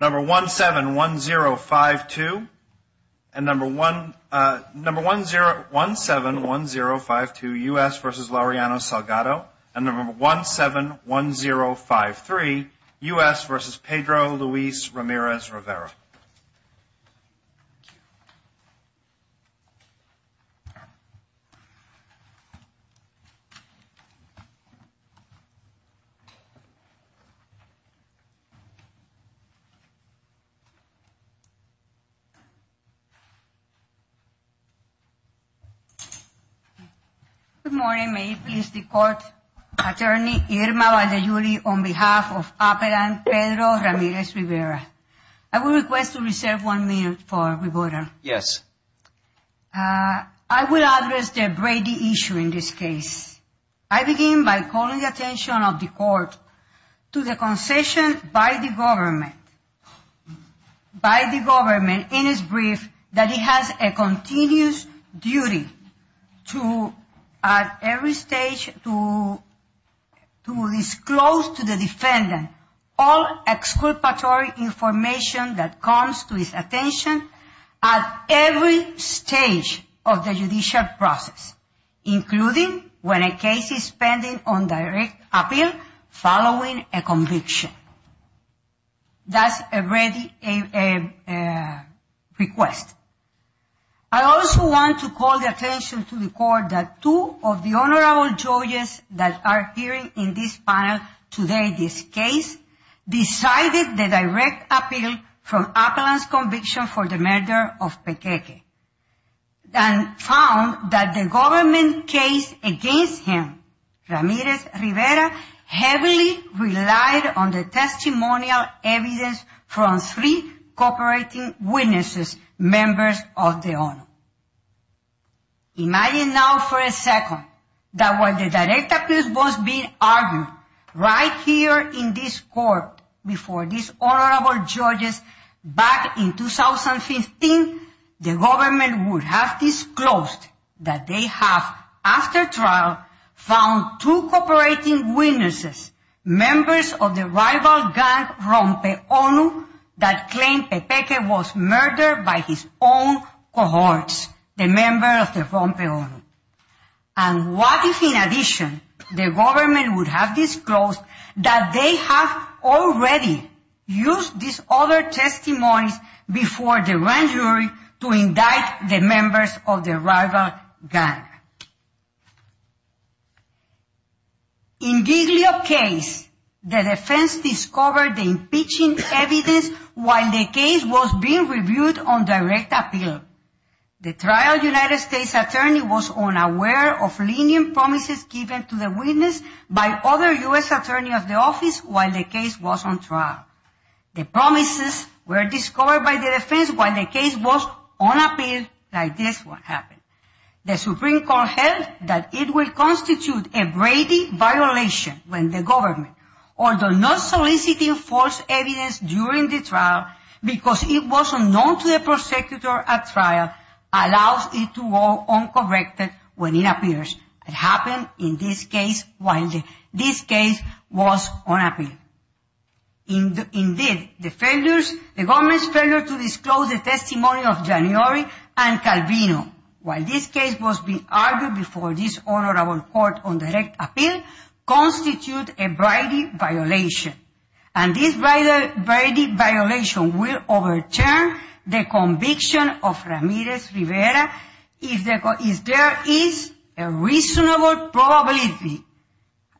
Number 171052 and number 171052 U.S. v. Laureano-Salgado and number 171053 U.S. v. Pedro Luis Ramirez-Rivera. Good morning. May it please the Court, Attorney Irma Valladolid on behalf of Appellant Pedro Ramirez-Rivera. I will request to reserve one minute for rebuttal. Yes. I will address the Brady issue in this case. I begin by calling the attention of the Court to the concession by the government, by the government in its brief, that it has a continuous duty to, at every stage, to disclose to the defendant all exculpatory information that comes to its attention at every stage of the judicial process, including when a case is pending on direct appeal following a conviction. That's a Brady request. I also want to call the attention to the Court that two of the honorable judges that are appearing in this panel today, this case, decided the direct appeal from Appellant's conviction for the murder of Pequeque, and found that the government case against him, Ramirez-Rivera, heavily relied on the testimonial evidence from three cooperating witnesses, members of the government. Imagine now for a second that while the direct appeal was being argued right here in this court before these honorable judges back in 2015, the government would have disclosed that they have, after trial, found two cooperating witnesses, members of the rival gang Rompe ONU, that claimed Pequeque was murdered by his own cohorts, the members of the Rompe ONU. And what if, in addition, the government would have disclosed that they have already used these other testimonies before the grand jury to indict the members of the rival gang? In Giglio's case, the defense discovered the impeaching evidence while the case was being reviewed on direct appeal. The trial United States attorney was unaware of lenient promises given to the witness by other U.S. attorneys of the office while the case was on trial. The promises were discovered by the defense while the case was on appeal, like this what happened. The Supreme Court held that it would constitute a brevity violation when the government, although not soliciting false evidence during the trial because it was unknown to the prosecutor at trial, allows it to go uncorrected when it appears. It happened in this case while this case was on appeal. Indeed, the government's failure to disclose the testimony of January and Calvino while this case was being argued before this honorable court on direct appeal constitute a brevity violation. And this brevity violation will overturn the conviction of Ramirez Rivera if there is a reasonable probability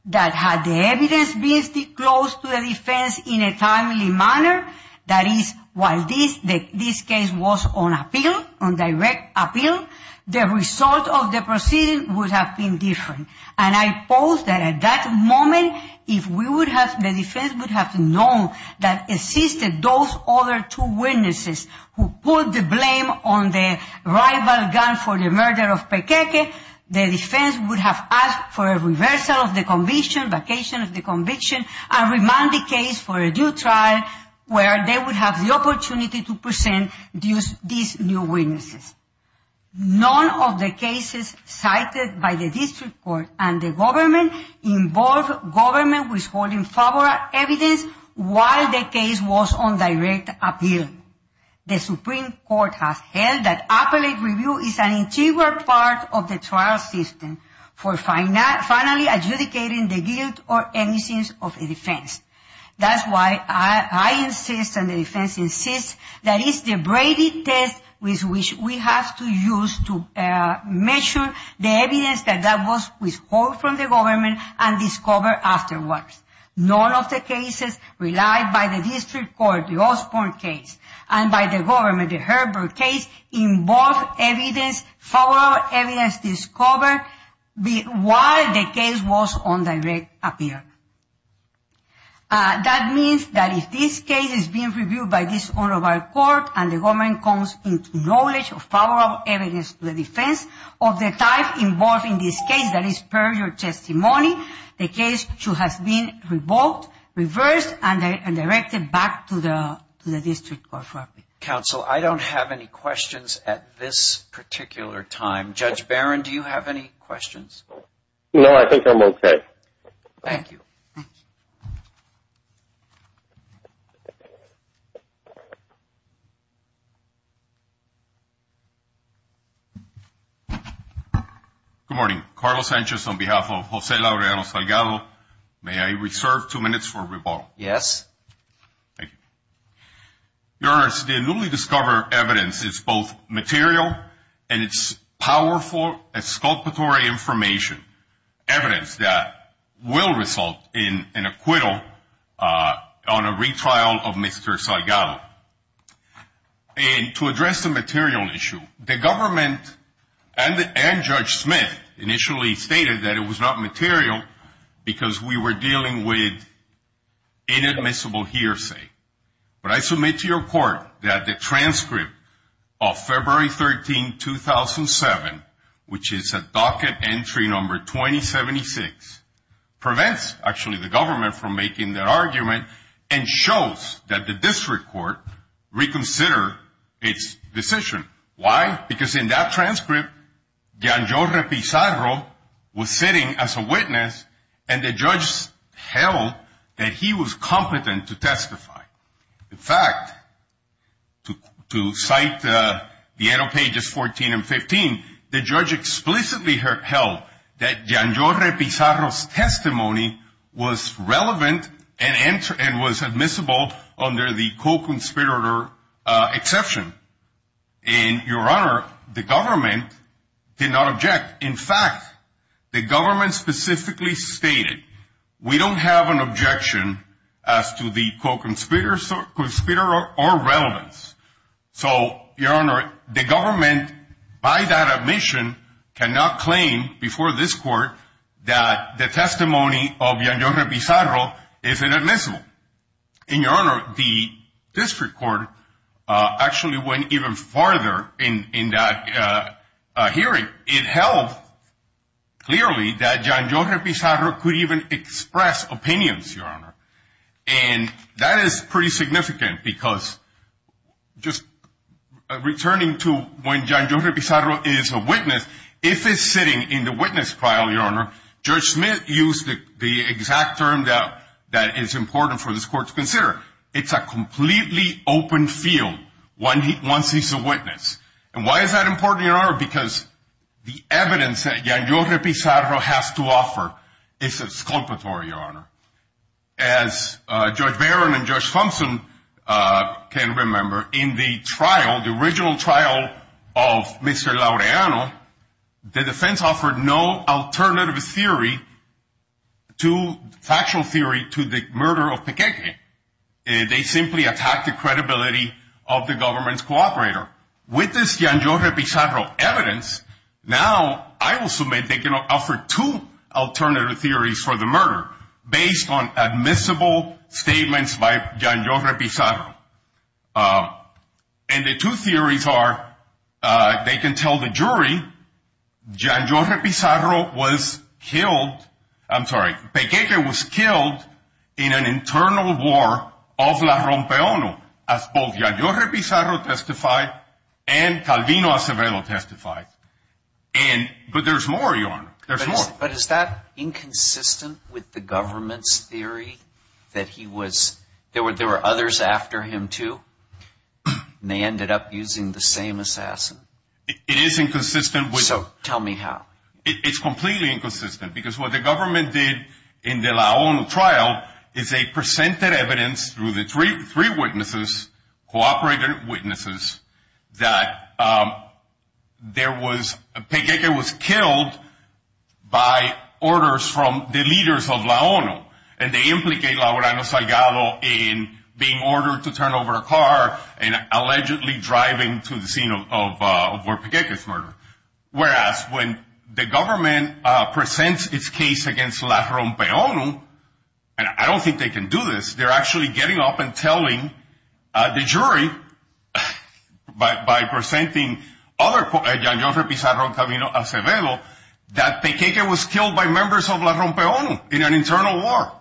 that had the evidence been disclosed to the defense in a timely manner, that is, while this case was on appeal, on direct appeal, the result of the proceeding would have been different. And I pose that at that moment if we would have, the defense would have known that assisted those other two witnesses who put the blame on the rival gun for the murder of Pequeque, the defense would have asked for a reversal of the conviction, vacation of the conviction, and remand the case for a new trial where they would have the opportunity to present these new witnesses. None of the cases cited by the district court and the government involve government withholding evidence while the case was on direct appeal. The Supreme Court has held that appellate review is an integral part of the trial system for finally adjudicating the guilt or innocence of a defense. That's why I insist and the defense insists that it's the brevity test with which we have to use to measure the evidence that was withhold from the government and discovered afterwards. None of the cases relied by the district court, the Osborne case, and by the government, the Herbert case, involve evidence, follow-up evidence discovered while the case was on direct appeal. That means that if this case is being reviewed by this honorable court and the government comes into knowledge of follow-up evidence to the defense of the type involved in this case, that is per your testimony, the case should have been revoked, reversed, and directed back to the district court for appeal. Counsel, I don't have any questions at this particular time. Judge Barron, do you have any questions? No, I think I'm okay. Thank you. Good morning. Carlos Sanchez on behalf of Jose Laureano Salgado. May I reserve two minutes for rebuttal? Yes. Thank you. Your Honor, the newly discovered evidence is both material and it's powerful, exculpatory information, evidence that will result in an acquittal on a retrial of Mr. Salgado. And to address the material issue, the government and Judge Smith initially stated that it was not material because we were dealing with inadmissible hearsay. But I submit to your court that the transcript of February 13, 2007, which is a docket entry number 2076, prevents actually the government from making their argument and shows that the district court reconsidered its decision. Why? Because in that transcript, Janjore Pizarro was sitting as a witness and the judge held that he was competent to testify. In fact, to cite the end of pages 14 and 15, the judge explicitly held that Janjore Pizarro's testimony was relevant and was admissible under the co-conspirator exception. And, Your Honor, the government did not object. In fact, the government specifically stated, we don't have an objection as to the co-conspirator or relevance. So, Your Honor, the government, by that admission, cannot claim before this court that the testimony of Janjore Pizarro is inadmissible. And, Your Honor, the district court actually went even farther in that hearing. It held clearly that Janjore Pizarro could even express opinions, Your Honor. And that is pretty significant because just returning to when Janjore Pizarro is a witness, if he's sitting in the witness trial, Your Honor, Judge Smith used the exact term that is important for this court to consider. It's a completely open field once he's a witness. And why is that important, Your Honor? Because the evidence that Janjore Pizarro has to offer is exculpatory, Your Honor. As Judge Barron and Judge Thompson can remember, in the trial, the original trial of Mr. Laureano, the defense offered no alternative theory to factual theory to the murder of Pequeque. They simply attacked the credibility of the government's co-operator. With this Janjore Pizarro evidence, now I will submit they can offer two alternative theories for the murder based on admissible statements by Janjore Pizarro. And the two theories are they can tell the jury Janjore Pizarro was killed, I'm sorry, Pequeque was killed in an internal war of La Rompeono as both Janjore Pizarro testified and Calvino Acevedo testified. But there's more, Your Honor. There's more. But is that inconsistent with the government's theory that he was, there were others after him too? And they ended up using the same assassin? It is inconsistent with... So, tell me how. It's completely inconsistent because what the government did in the La ONU trial is they presented evidence through the three witnesses, co-operator witnesses, that Pequeque was killed by orders from the leaders of La ONU. And they implicate Laureano Salgado in being ordered to turn over a car and allegedly driving to the scene of where Pequeque was murdered. Whereas when the government presents its case against La Rompeono, and I don't think they can do this, they're actually getting up and telling the jury by presenting other Janjore Pizarro, Calvino Acevedo, that Pequeque was killed by members of La Rompeono in an internal war.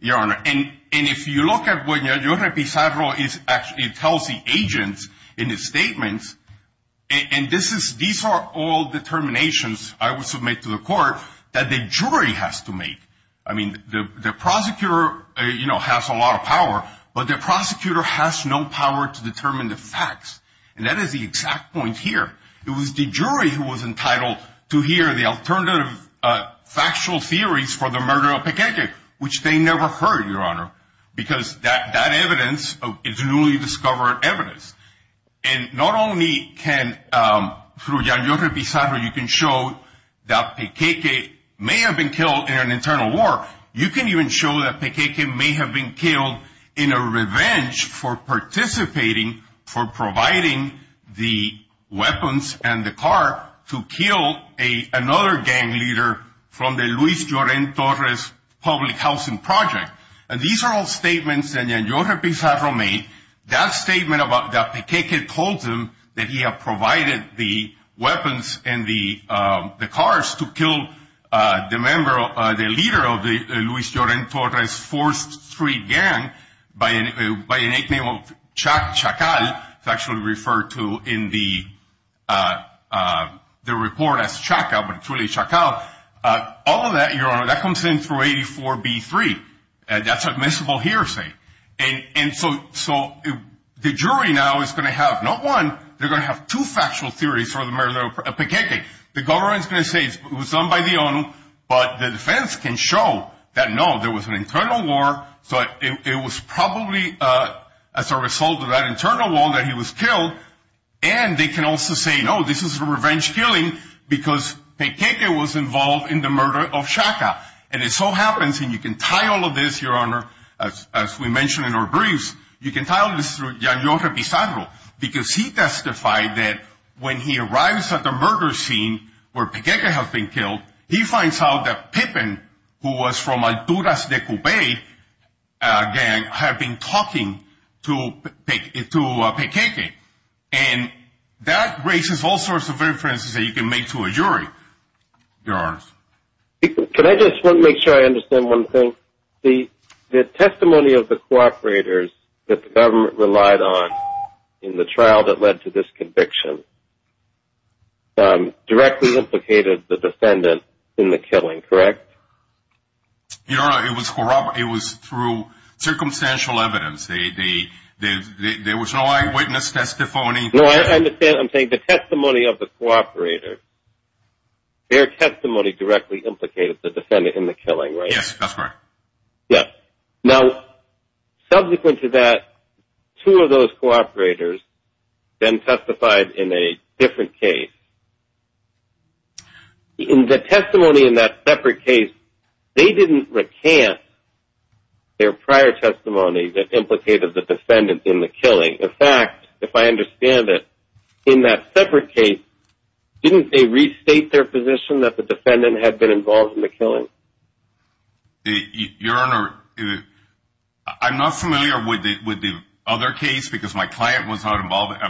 Your Honor, and if you look at what Janjore Pizarro tells the agents in his statements, and these are all determinations I would submit to the court that the jury has to make. I mean, the prosecutor has a lot of power, but the prosecutor has no power to determine the facts. And that is the exact point here. It was the jury who was entitled to hear the alternative factual theories for the murder of Pequeque, which they never heard, Your Honor, because that evidence is newly discovered evidence. And not only can, through Janjore Pizarro, you can show that Pequeque may have been killed in an internal war, you can even show that Pequeque may have been killed in a revenge for participating, for providing the weapons and the car to kill another gang leader from the Luis Joren Torres public housing project. And these are all statements that Janjore Pizarro made, that statement that Pequeque told him that he had provided the weapons and the cars to kill the leader of the Luis Joren Torres forced street gang by an nickname of Chacal, it's actually referred to in the report as Chaca, but it's really Chacal. All of that, Your Honor, that comes in through 84B3. That's admissible hearsay. And so the jury now is going to have not one, they're going to have two factual theories for the murder of Pequeque. The government is going to say it was done by the owner, but the defense can show that no, there was an internal war. So it was probably as a result of that internal war that he was killed. And they can also say, no, this is a revenge killing because Pequeque was involved in the murder of Chacal. And it so happens, and you can tie all of this, Your Honor, as we mentioned in our briefs, you can tie all this through Janjore Pizarro. Because he testified that when he arrives at the murder scene where Pequeque has been killed, he finds out that Pippin, who was from Alturas de Cubay gang, had been talking to Pequeque. And that raises all sorts of inferences that you can make to a jury, Your Honor. Can I just make sure I understand one thing? The testimony of the cooperators that the government relied on in the trial that led to this conviction directly implicated the defendant in the killing, correct? Your Honor, it was through circumstantial evidence. There was no eyewitness testimony. No, I'm saying the testimony of the cooperator, their testimony directly implicated the defendant in the killing, right? Yes, that's right. Now, subsequent to that, two of those cooperators then testified in a different case. In the testimony in that separate case, they didn't recant their prior testimony that implicated the defendant in the killing. In fact, if I understand it, in that separate case, didn't they restate their position that the defendant had been involved in the killing? Your Honor, I'm not familiar with the other case because my client was not involved.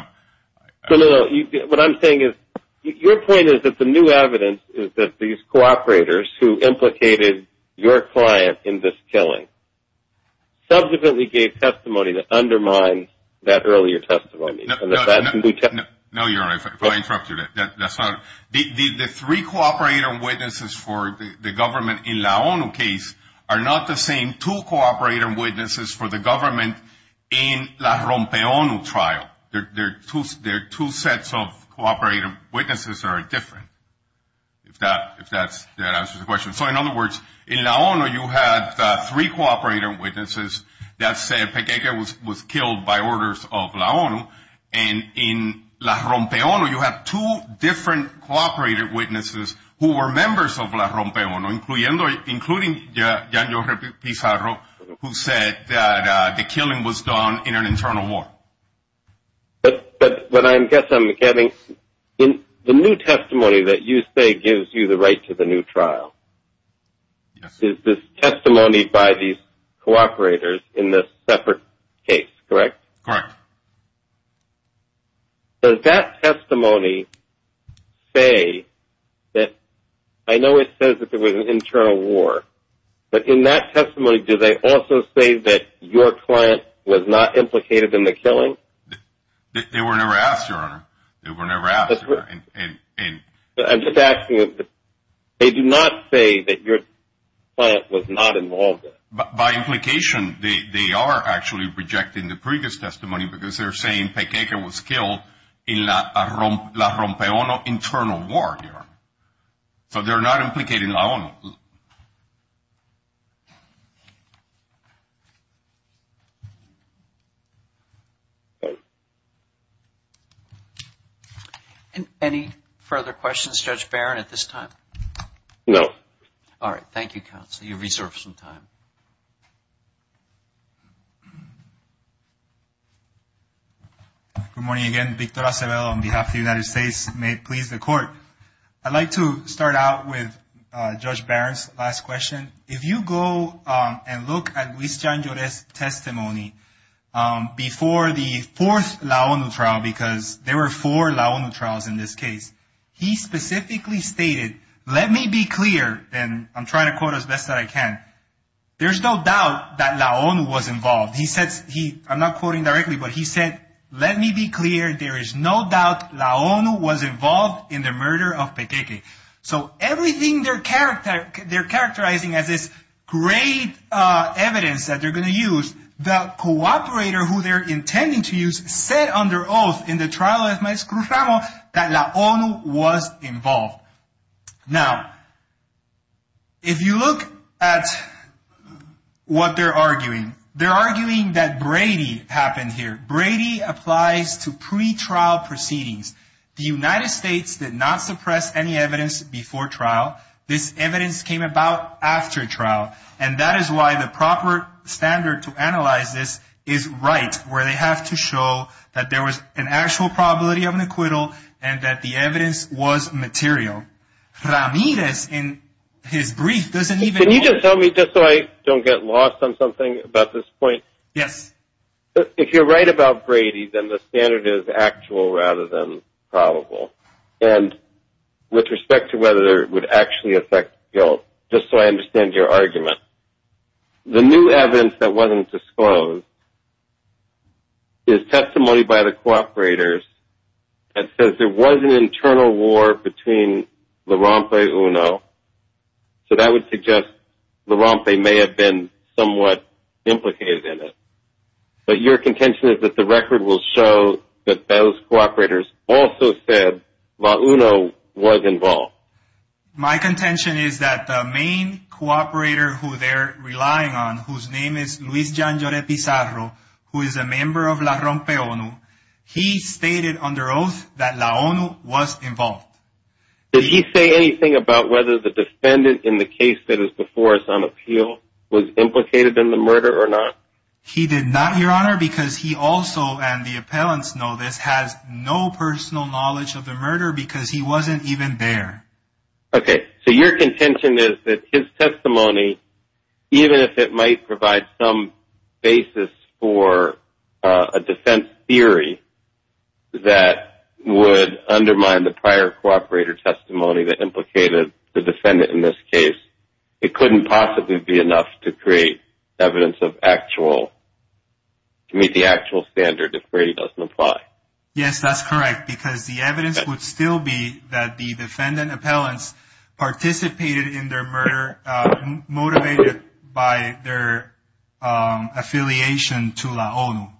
What I'm saying is, your point is that the new evidence is that these cooperators who implicated your client in this killing subsequently gave testimony to undermine that earlier testimony. No, Your Honor, if I interrupted you. The three cooperator witnesses for the government in the ONU case are not the same two cooperator witnesses for the government in the Rompe ONU trial. There are two sets of cooperator witnesses that are different, if that answers the question. So, in other words, in the ONU, you had three cooperator witnesses that said Pequega was killed by orders of the ONU. And in the Rompe ONU, you had two different cooperator witnesses who were members of the Rompe ONU, including Janjo Pizarro, who said that the killing was done in an internal war. But what I guess I'm getting, the new testimony that you say gives you the right to the new trial, is this testimony by these cooperators in this separate case, correct? Correct. Does that testimony say that, I know it says that there was an internal war, but in that testimony, do they also say that your client was not implicated in the killing? They were never asked, Your Honor. They were never asked. I'm just asking, they do not say that your client was not involved in it? By implication, they are actually rejecting the previous testimony because they're saying Pequega was killed in the Rompe ONU internal war, Your Honor. So they're not implicated in the ONU. Any further questions, Judge Barron, at this time? No. All right. Thank you, Counsel. You've reserved some time. Good morning again. Victor Acevedo on behalf of the United States. May it please the Court. I'd like to start out with Judge Barron's last question. If you go and look at Luis Jan Joret's testimony before the fourth LAONU trial, because there were four LAONU trials in this case, he specifically stated, let me be clear, and I'm trying to quote as best that I can. There's no doubt that LAONU was involved. He said, I'm not quoting directly, but he said, let me be clear, there is no doubt LAONU was involved in the murder of Pequega. So everything they're characterizing as this great evidence that they're going to use, the cooperator who they're intending to use said under oath in the trial of Maestro Ramos that LAONU was involved. Now, if you look at what they're arguing, they're arguing that Brady happened here. Brady applies to pre-trial proceedings. The United States did not suppress any evidence before trial. This evidence came about after trial. And that is why the proper standard to analyze this is right, where they have to show that there was an actual probability of an acquittal and that the evidence was material. Ramirez in his brief doesn't even... Can you just tell me, just so I don't get lost on something about this point. Yes. It's more about Brady than the standard is actual rather than probable. And with respect to whether it would actually affect guilt, just so I understand your argument. The new evidence that wasn't disclosed is testimony by the cooperators that says there was an internal war between Larampe and Uno. So that would suggest Larampe may have been somewhat implicated in it. But your contention is that the record will show that those cooperators also said LAONU was involved. My contention is that the main cooperator who they're relying on, whose name is Luis Jean Jore Pizarro, who is a member of LaRampeONU, he stated under oath that LAONU was involved. Did he say anything about whether the defendant in the case that is before us on appeal was implicated in the murder or not? He did not, your honor, because he also, and the appellants know this, has no personal knowledge of the murder because he wasn't even there. Okay, so your contention is that his testimony, even if it might provide some basis for a defense theory that would undermine the prior cooperator testimony that implicated the defendant in this case, it couldn't possibly be enough to create evidence of actual, to meet the actual standard if Brady doesn't apply. Yes, that's correct, because the evidence would still be that the defendant appellants participated in their murder, motivated by their affiliation to LAONU.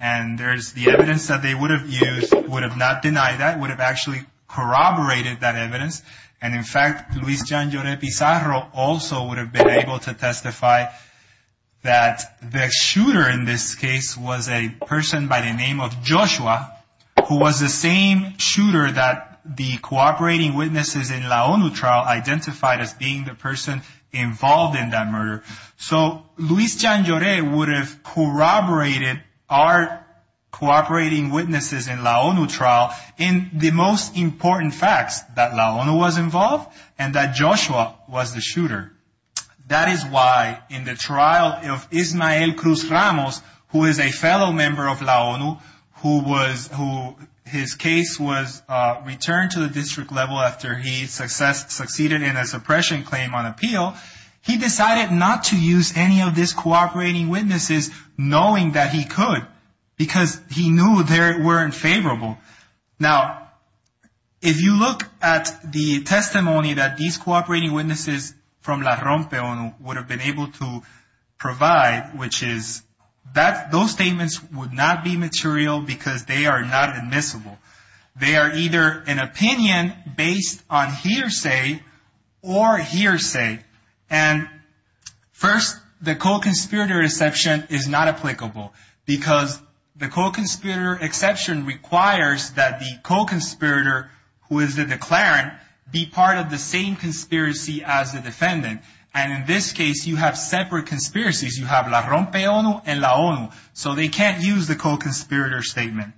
And there's the evidence that they would have used, would have not denied that, would have actually corroborated that evidence. And in fact, Luis Jan Jore Pizarro also would have been able to testify that the shooter in this case was a person by the name of Joshua, who was the same shooter that the cooperating witnesses in LAONU trial identified as being the person involved in that murder. So Luis Jan Jore would have corroborated our cooperating witnesses in LAONU trial in the most important facts, that LAONU was involved and that Joshua was the shooter. That is why in the trial of Ismael Cruz Ramos, who is a fellow member of LAONU, who his case was returned to the district level after he succeeded in a suppression claim on appeal, he decided not to use any of these cooperating witnesses, knowing that he could, because he knew they were unfavorable. Now, if you look at the testimony that these cooperating witnesses from LAROMPEONU would have been able to provide, which is that those statements would not be material because they are not admissible. They are either an opinion based on hearsay or hearsay. And first, the co-conspirator exception is not applicable, because the co-conspirator exception requires that the co-conspirator, who is the declarant, be part of the same conspiracy as the defendant. And in this case, you have separate conspiracies. You have LAROMPEONU and LAONU, so they can't use the co-conspirator statement.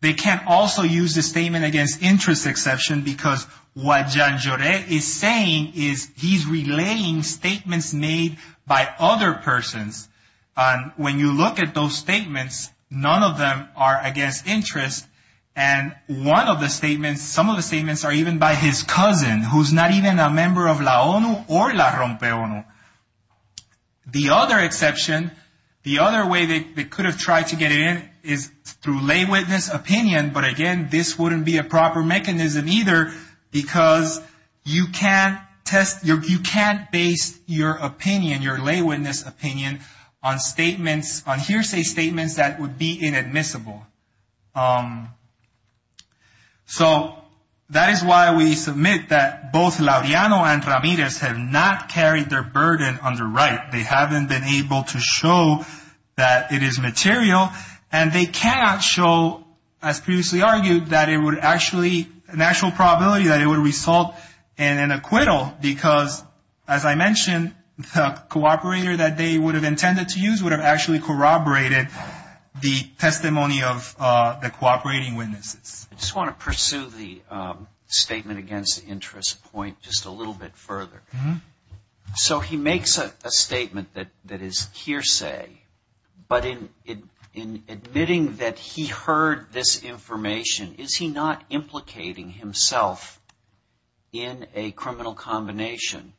They can't also use the statement against interest exception, because what Jan Joret is saying is he's relaying statements made by other persons. And when you look at those statements, none of them are against interest. And one of the statements, some of the statements are even by his cousin, who's not even a member of LAONU or LAROMPEONU. The other exception, the other way they could have tried to get in is through lay witness opinion, but again, this wouldn't be a proper mechanism either, because you can't test, you can't base your opinion, your lay witness opinion on statements, on hearsay statements that would be inadmissible. So that is why we submit that both Laureano and Ramirez have not carried their burden on the right. They haven't been able to show that it is material, and they cannot show, as previously argued, that it would actually, an actual probability that it would result in an acquittal, because as I mentioned, the co-operator that they would have intended to use would have actually corroborated the testimony of the co-operating witnesses. I just want to pursue the statement against interest point just a little bit further. So he makes a statement that is hearsay, but in admitting that he heard this information, is he not implicating himself in a criminal combination?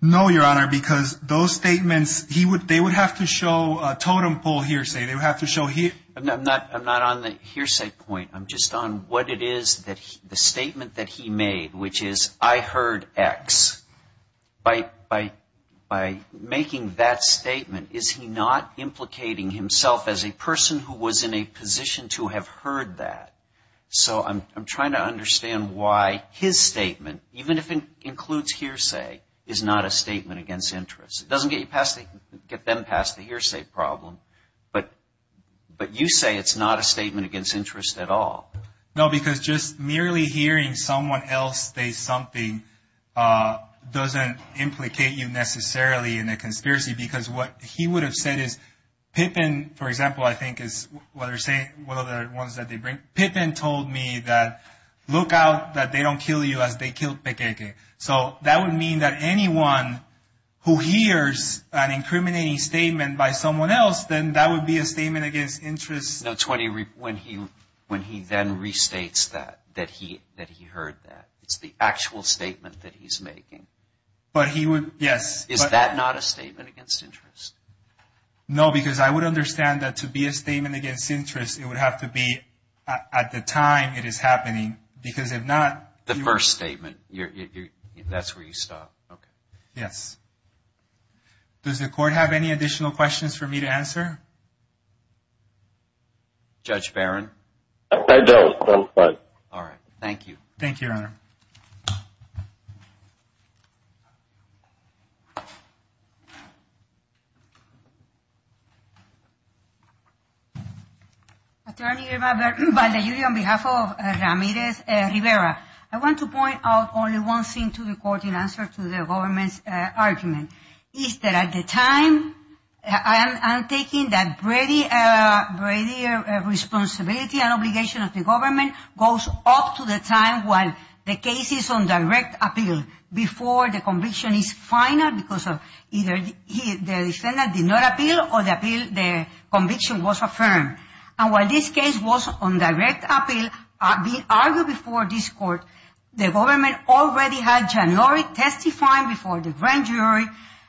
No, Your Honor, because those statements, they would have to show totem pole hearsay. They would have to show hearsay. I'm not on the hearsay point. I'm just on what it is, the statement that he made, which is I heard X. By making that statement, is he not implicating himself as a person who was in a position to have heard that? So I'm trying to understand why his statement, even if it includes hearsay, is not a statement against interest. It doesn't get them past the hearsay problem, but you say it's not a statement against interest at all. No, because just merely hearing someone else say something doesn't implicate you necessarily in a conspiracy, because what he would have said is Pippin, for example, I think is one of the ones that they bring. Pippin told me that, look out that they don't kill you as they killed Pequeque. So that would mean that anyone who hears an incriminating statement by someone else, then that would be a statement against interest. No, it's when he then restates that, that he heard that. It's the actual statement that he's making. But he would, yes. Is that not a statement against interest? No, because I would understand that to be a statement against interest, it would have to be at the time it is happening, because if not... The first statement, that's where you stop. Yes. Does the court have any additional questions for me to answer? Judge Barron? All right, thank you. Thank you, Your Honor. Thank you. Attorney Robert Valdellulli, on behalf of Ramirez Rivera, I want to point out only one thing to the court in answer to the government's argument. Is that at the time, I'm taking that Brady responsibility and obligation of the government goes up to the time when the case is on direct appeal. Before the conviction is final, because of either the defendant did not appeal or the conviction was affirmed. And while this case was on direct appeal, being argued before this court, the government already had Gianlori testifying before the grand jury.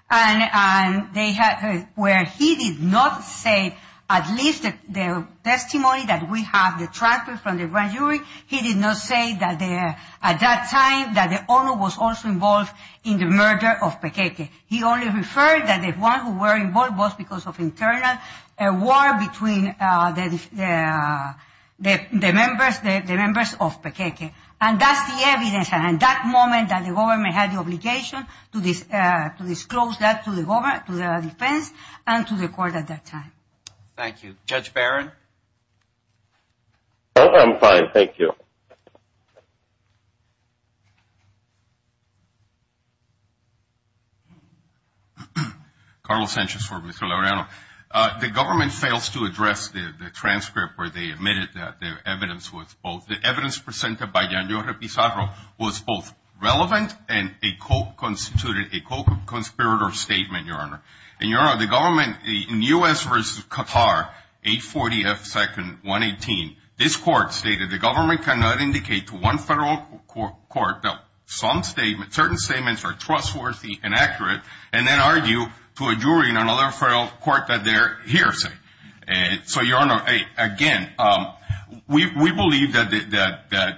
And they had, where he did not say at least the testimony that we have, the transcript from the grand jury, he did not say that at that time that the owner was also involved in the murder of Pequeque. He only referred that the one who were involved was because of internal war between the members of Pequeque. And that's the evidence, and that moment that the government had the obligation to disclose that to the defense and to the court at that time. Thank you. Judge Barron? Oh, I'm fine. Thank you. Carlos Sanchez for Mr. Laureano. The government fails to address the transcript where they admitted that the evidence was both, the evidence presented by Gianlori Pizarro was both relevant and a co-constituted, a co-conspirator statement, Your Honor. And, Your Honor, the government in U.S. versus Qatar, 840 F. 2nd, 118, this court stated the government cannot indicate to one federal court that some statements, certain statements are trustworthy and accurate, and then argue to a jury in another federal court that they're hearsay. So, Your Honor, again, we believe that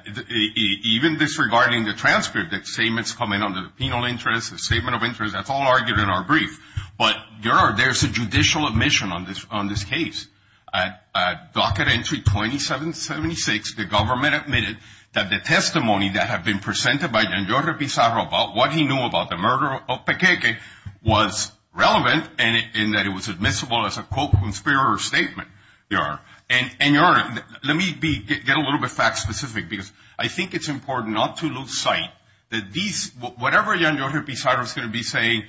even disregarding the transcript, that statements come in under the penal interest, the statement of interest, that's all argued in our brief. But, Your Honor, there's a judicial admission on this case. At docket entry 2776, the government admitted that the testimony that had been presented by Gianlori Pizarro about what he knew about the murder of Pequeque was relevant and that it was admissible as a co-conspirator statement, Your Honor. And, Your Honor, let me be, get a little bit fact specific because I think it's important not to lose sight that these, whatever Gianlori Pizarro's going to be saying,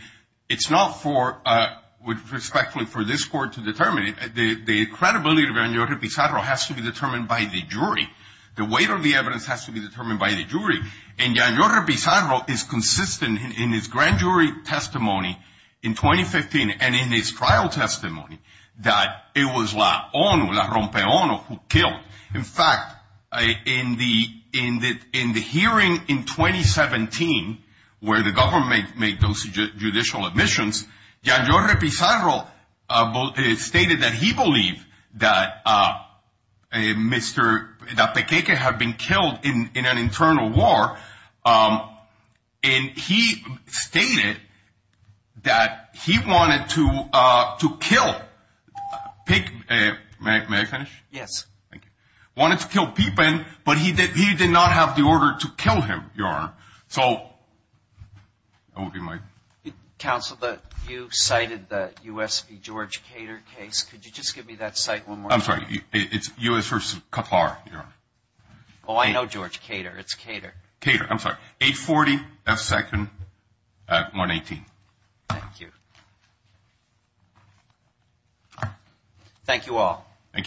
it's not for, respectfully, for this court to determine it. The credibility of Gianlori Pizarro has to be determined by the jury. The weight of the evidence has to be determined by the jury. And Gianlori Pizarro is consistent in his grand jury testimony in 2015 and in his trial testimony that it was La ONU, La Rompe ONU, who killed. In fact, in the hearing in 2017 where the government made those judicial admissions, Gianlori Pizarro stated that he believed that Mr., that Pequeque had been killed in an internal war. And he stated that he wanted to kill, may I finish? Wanted to kill Pequeque, but he did not have the order to kill him, Your Honor. So, over to you, Mike. Counsel, you cited the U.S. v. George Cater case. Could you just give me that cite one more time? I'm sorry. It's U.S. v. Qatar, Your Honor. Oh, I know George Cater. It's Cater. Cater, I'm sorry. 840 F. Second at 118. Thank you. Thank you all. Thank you.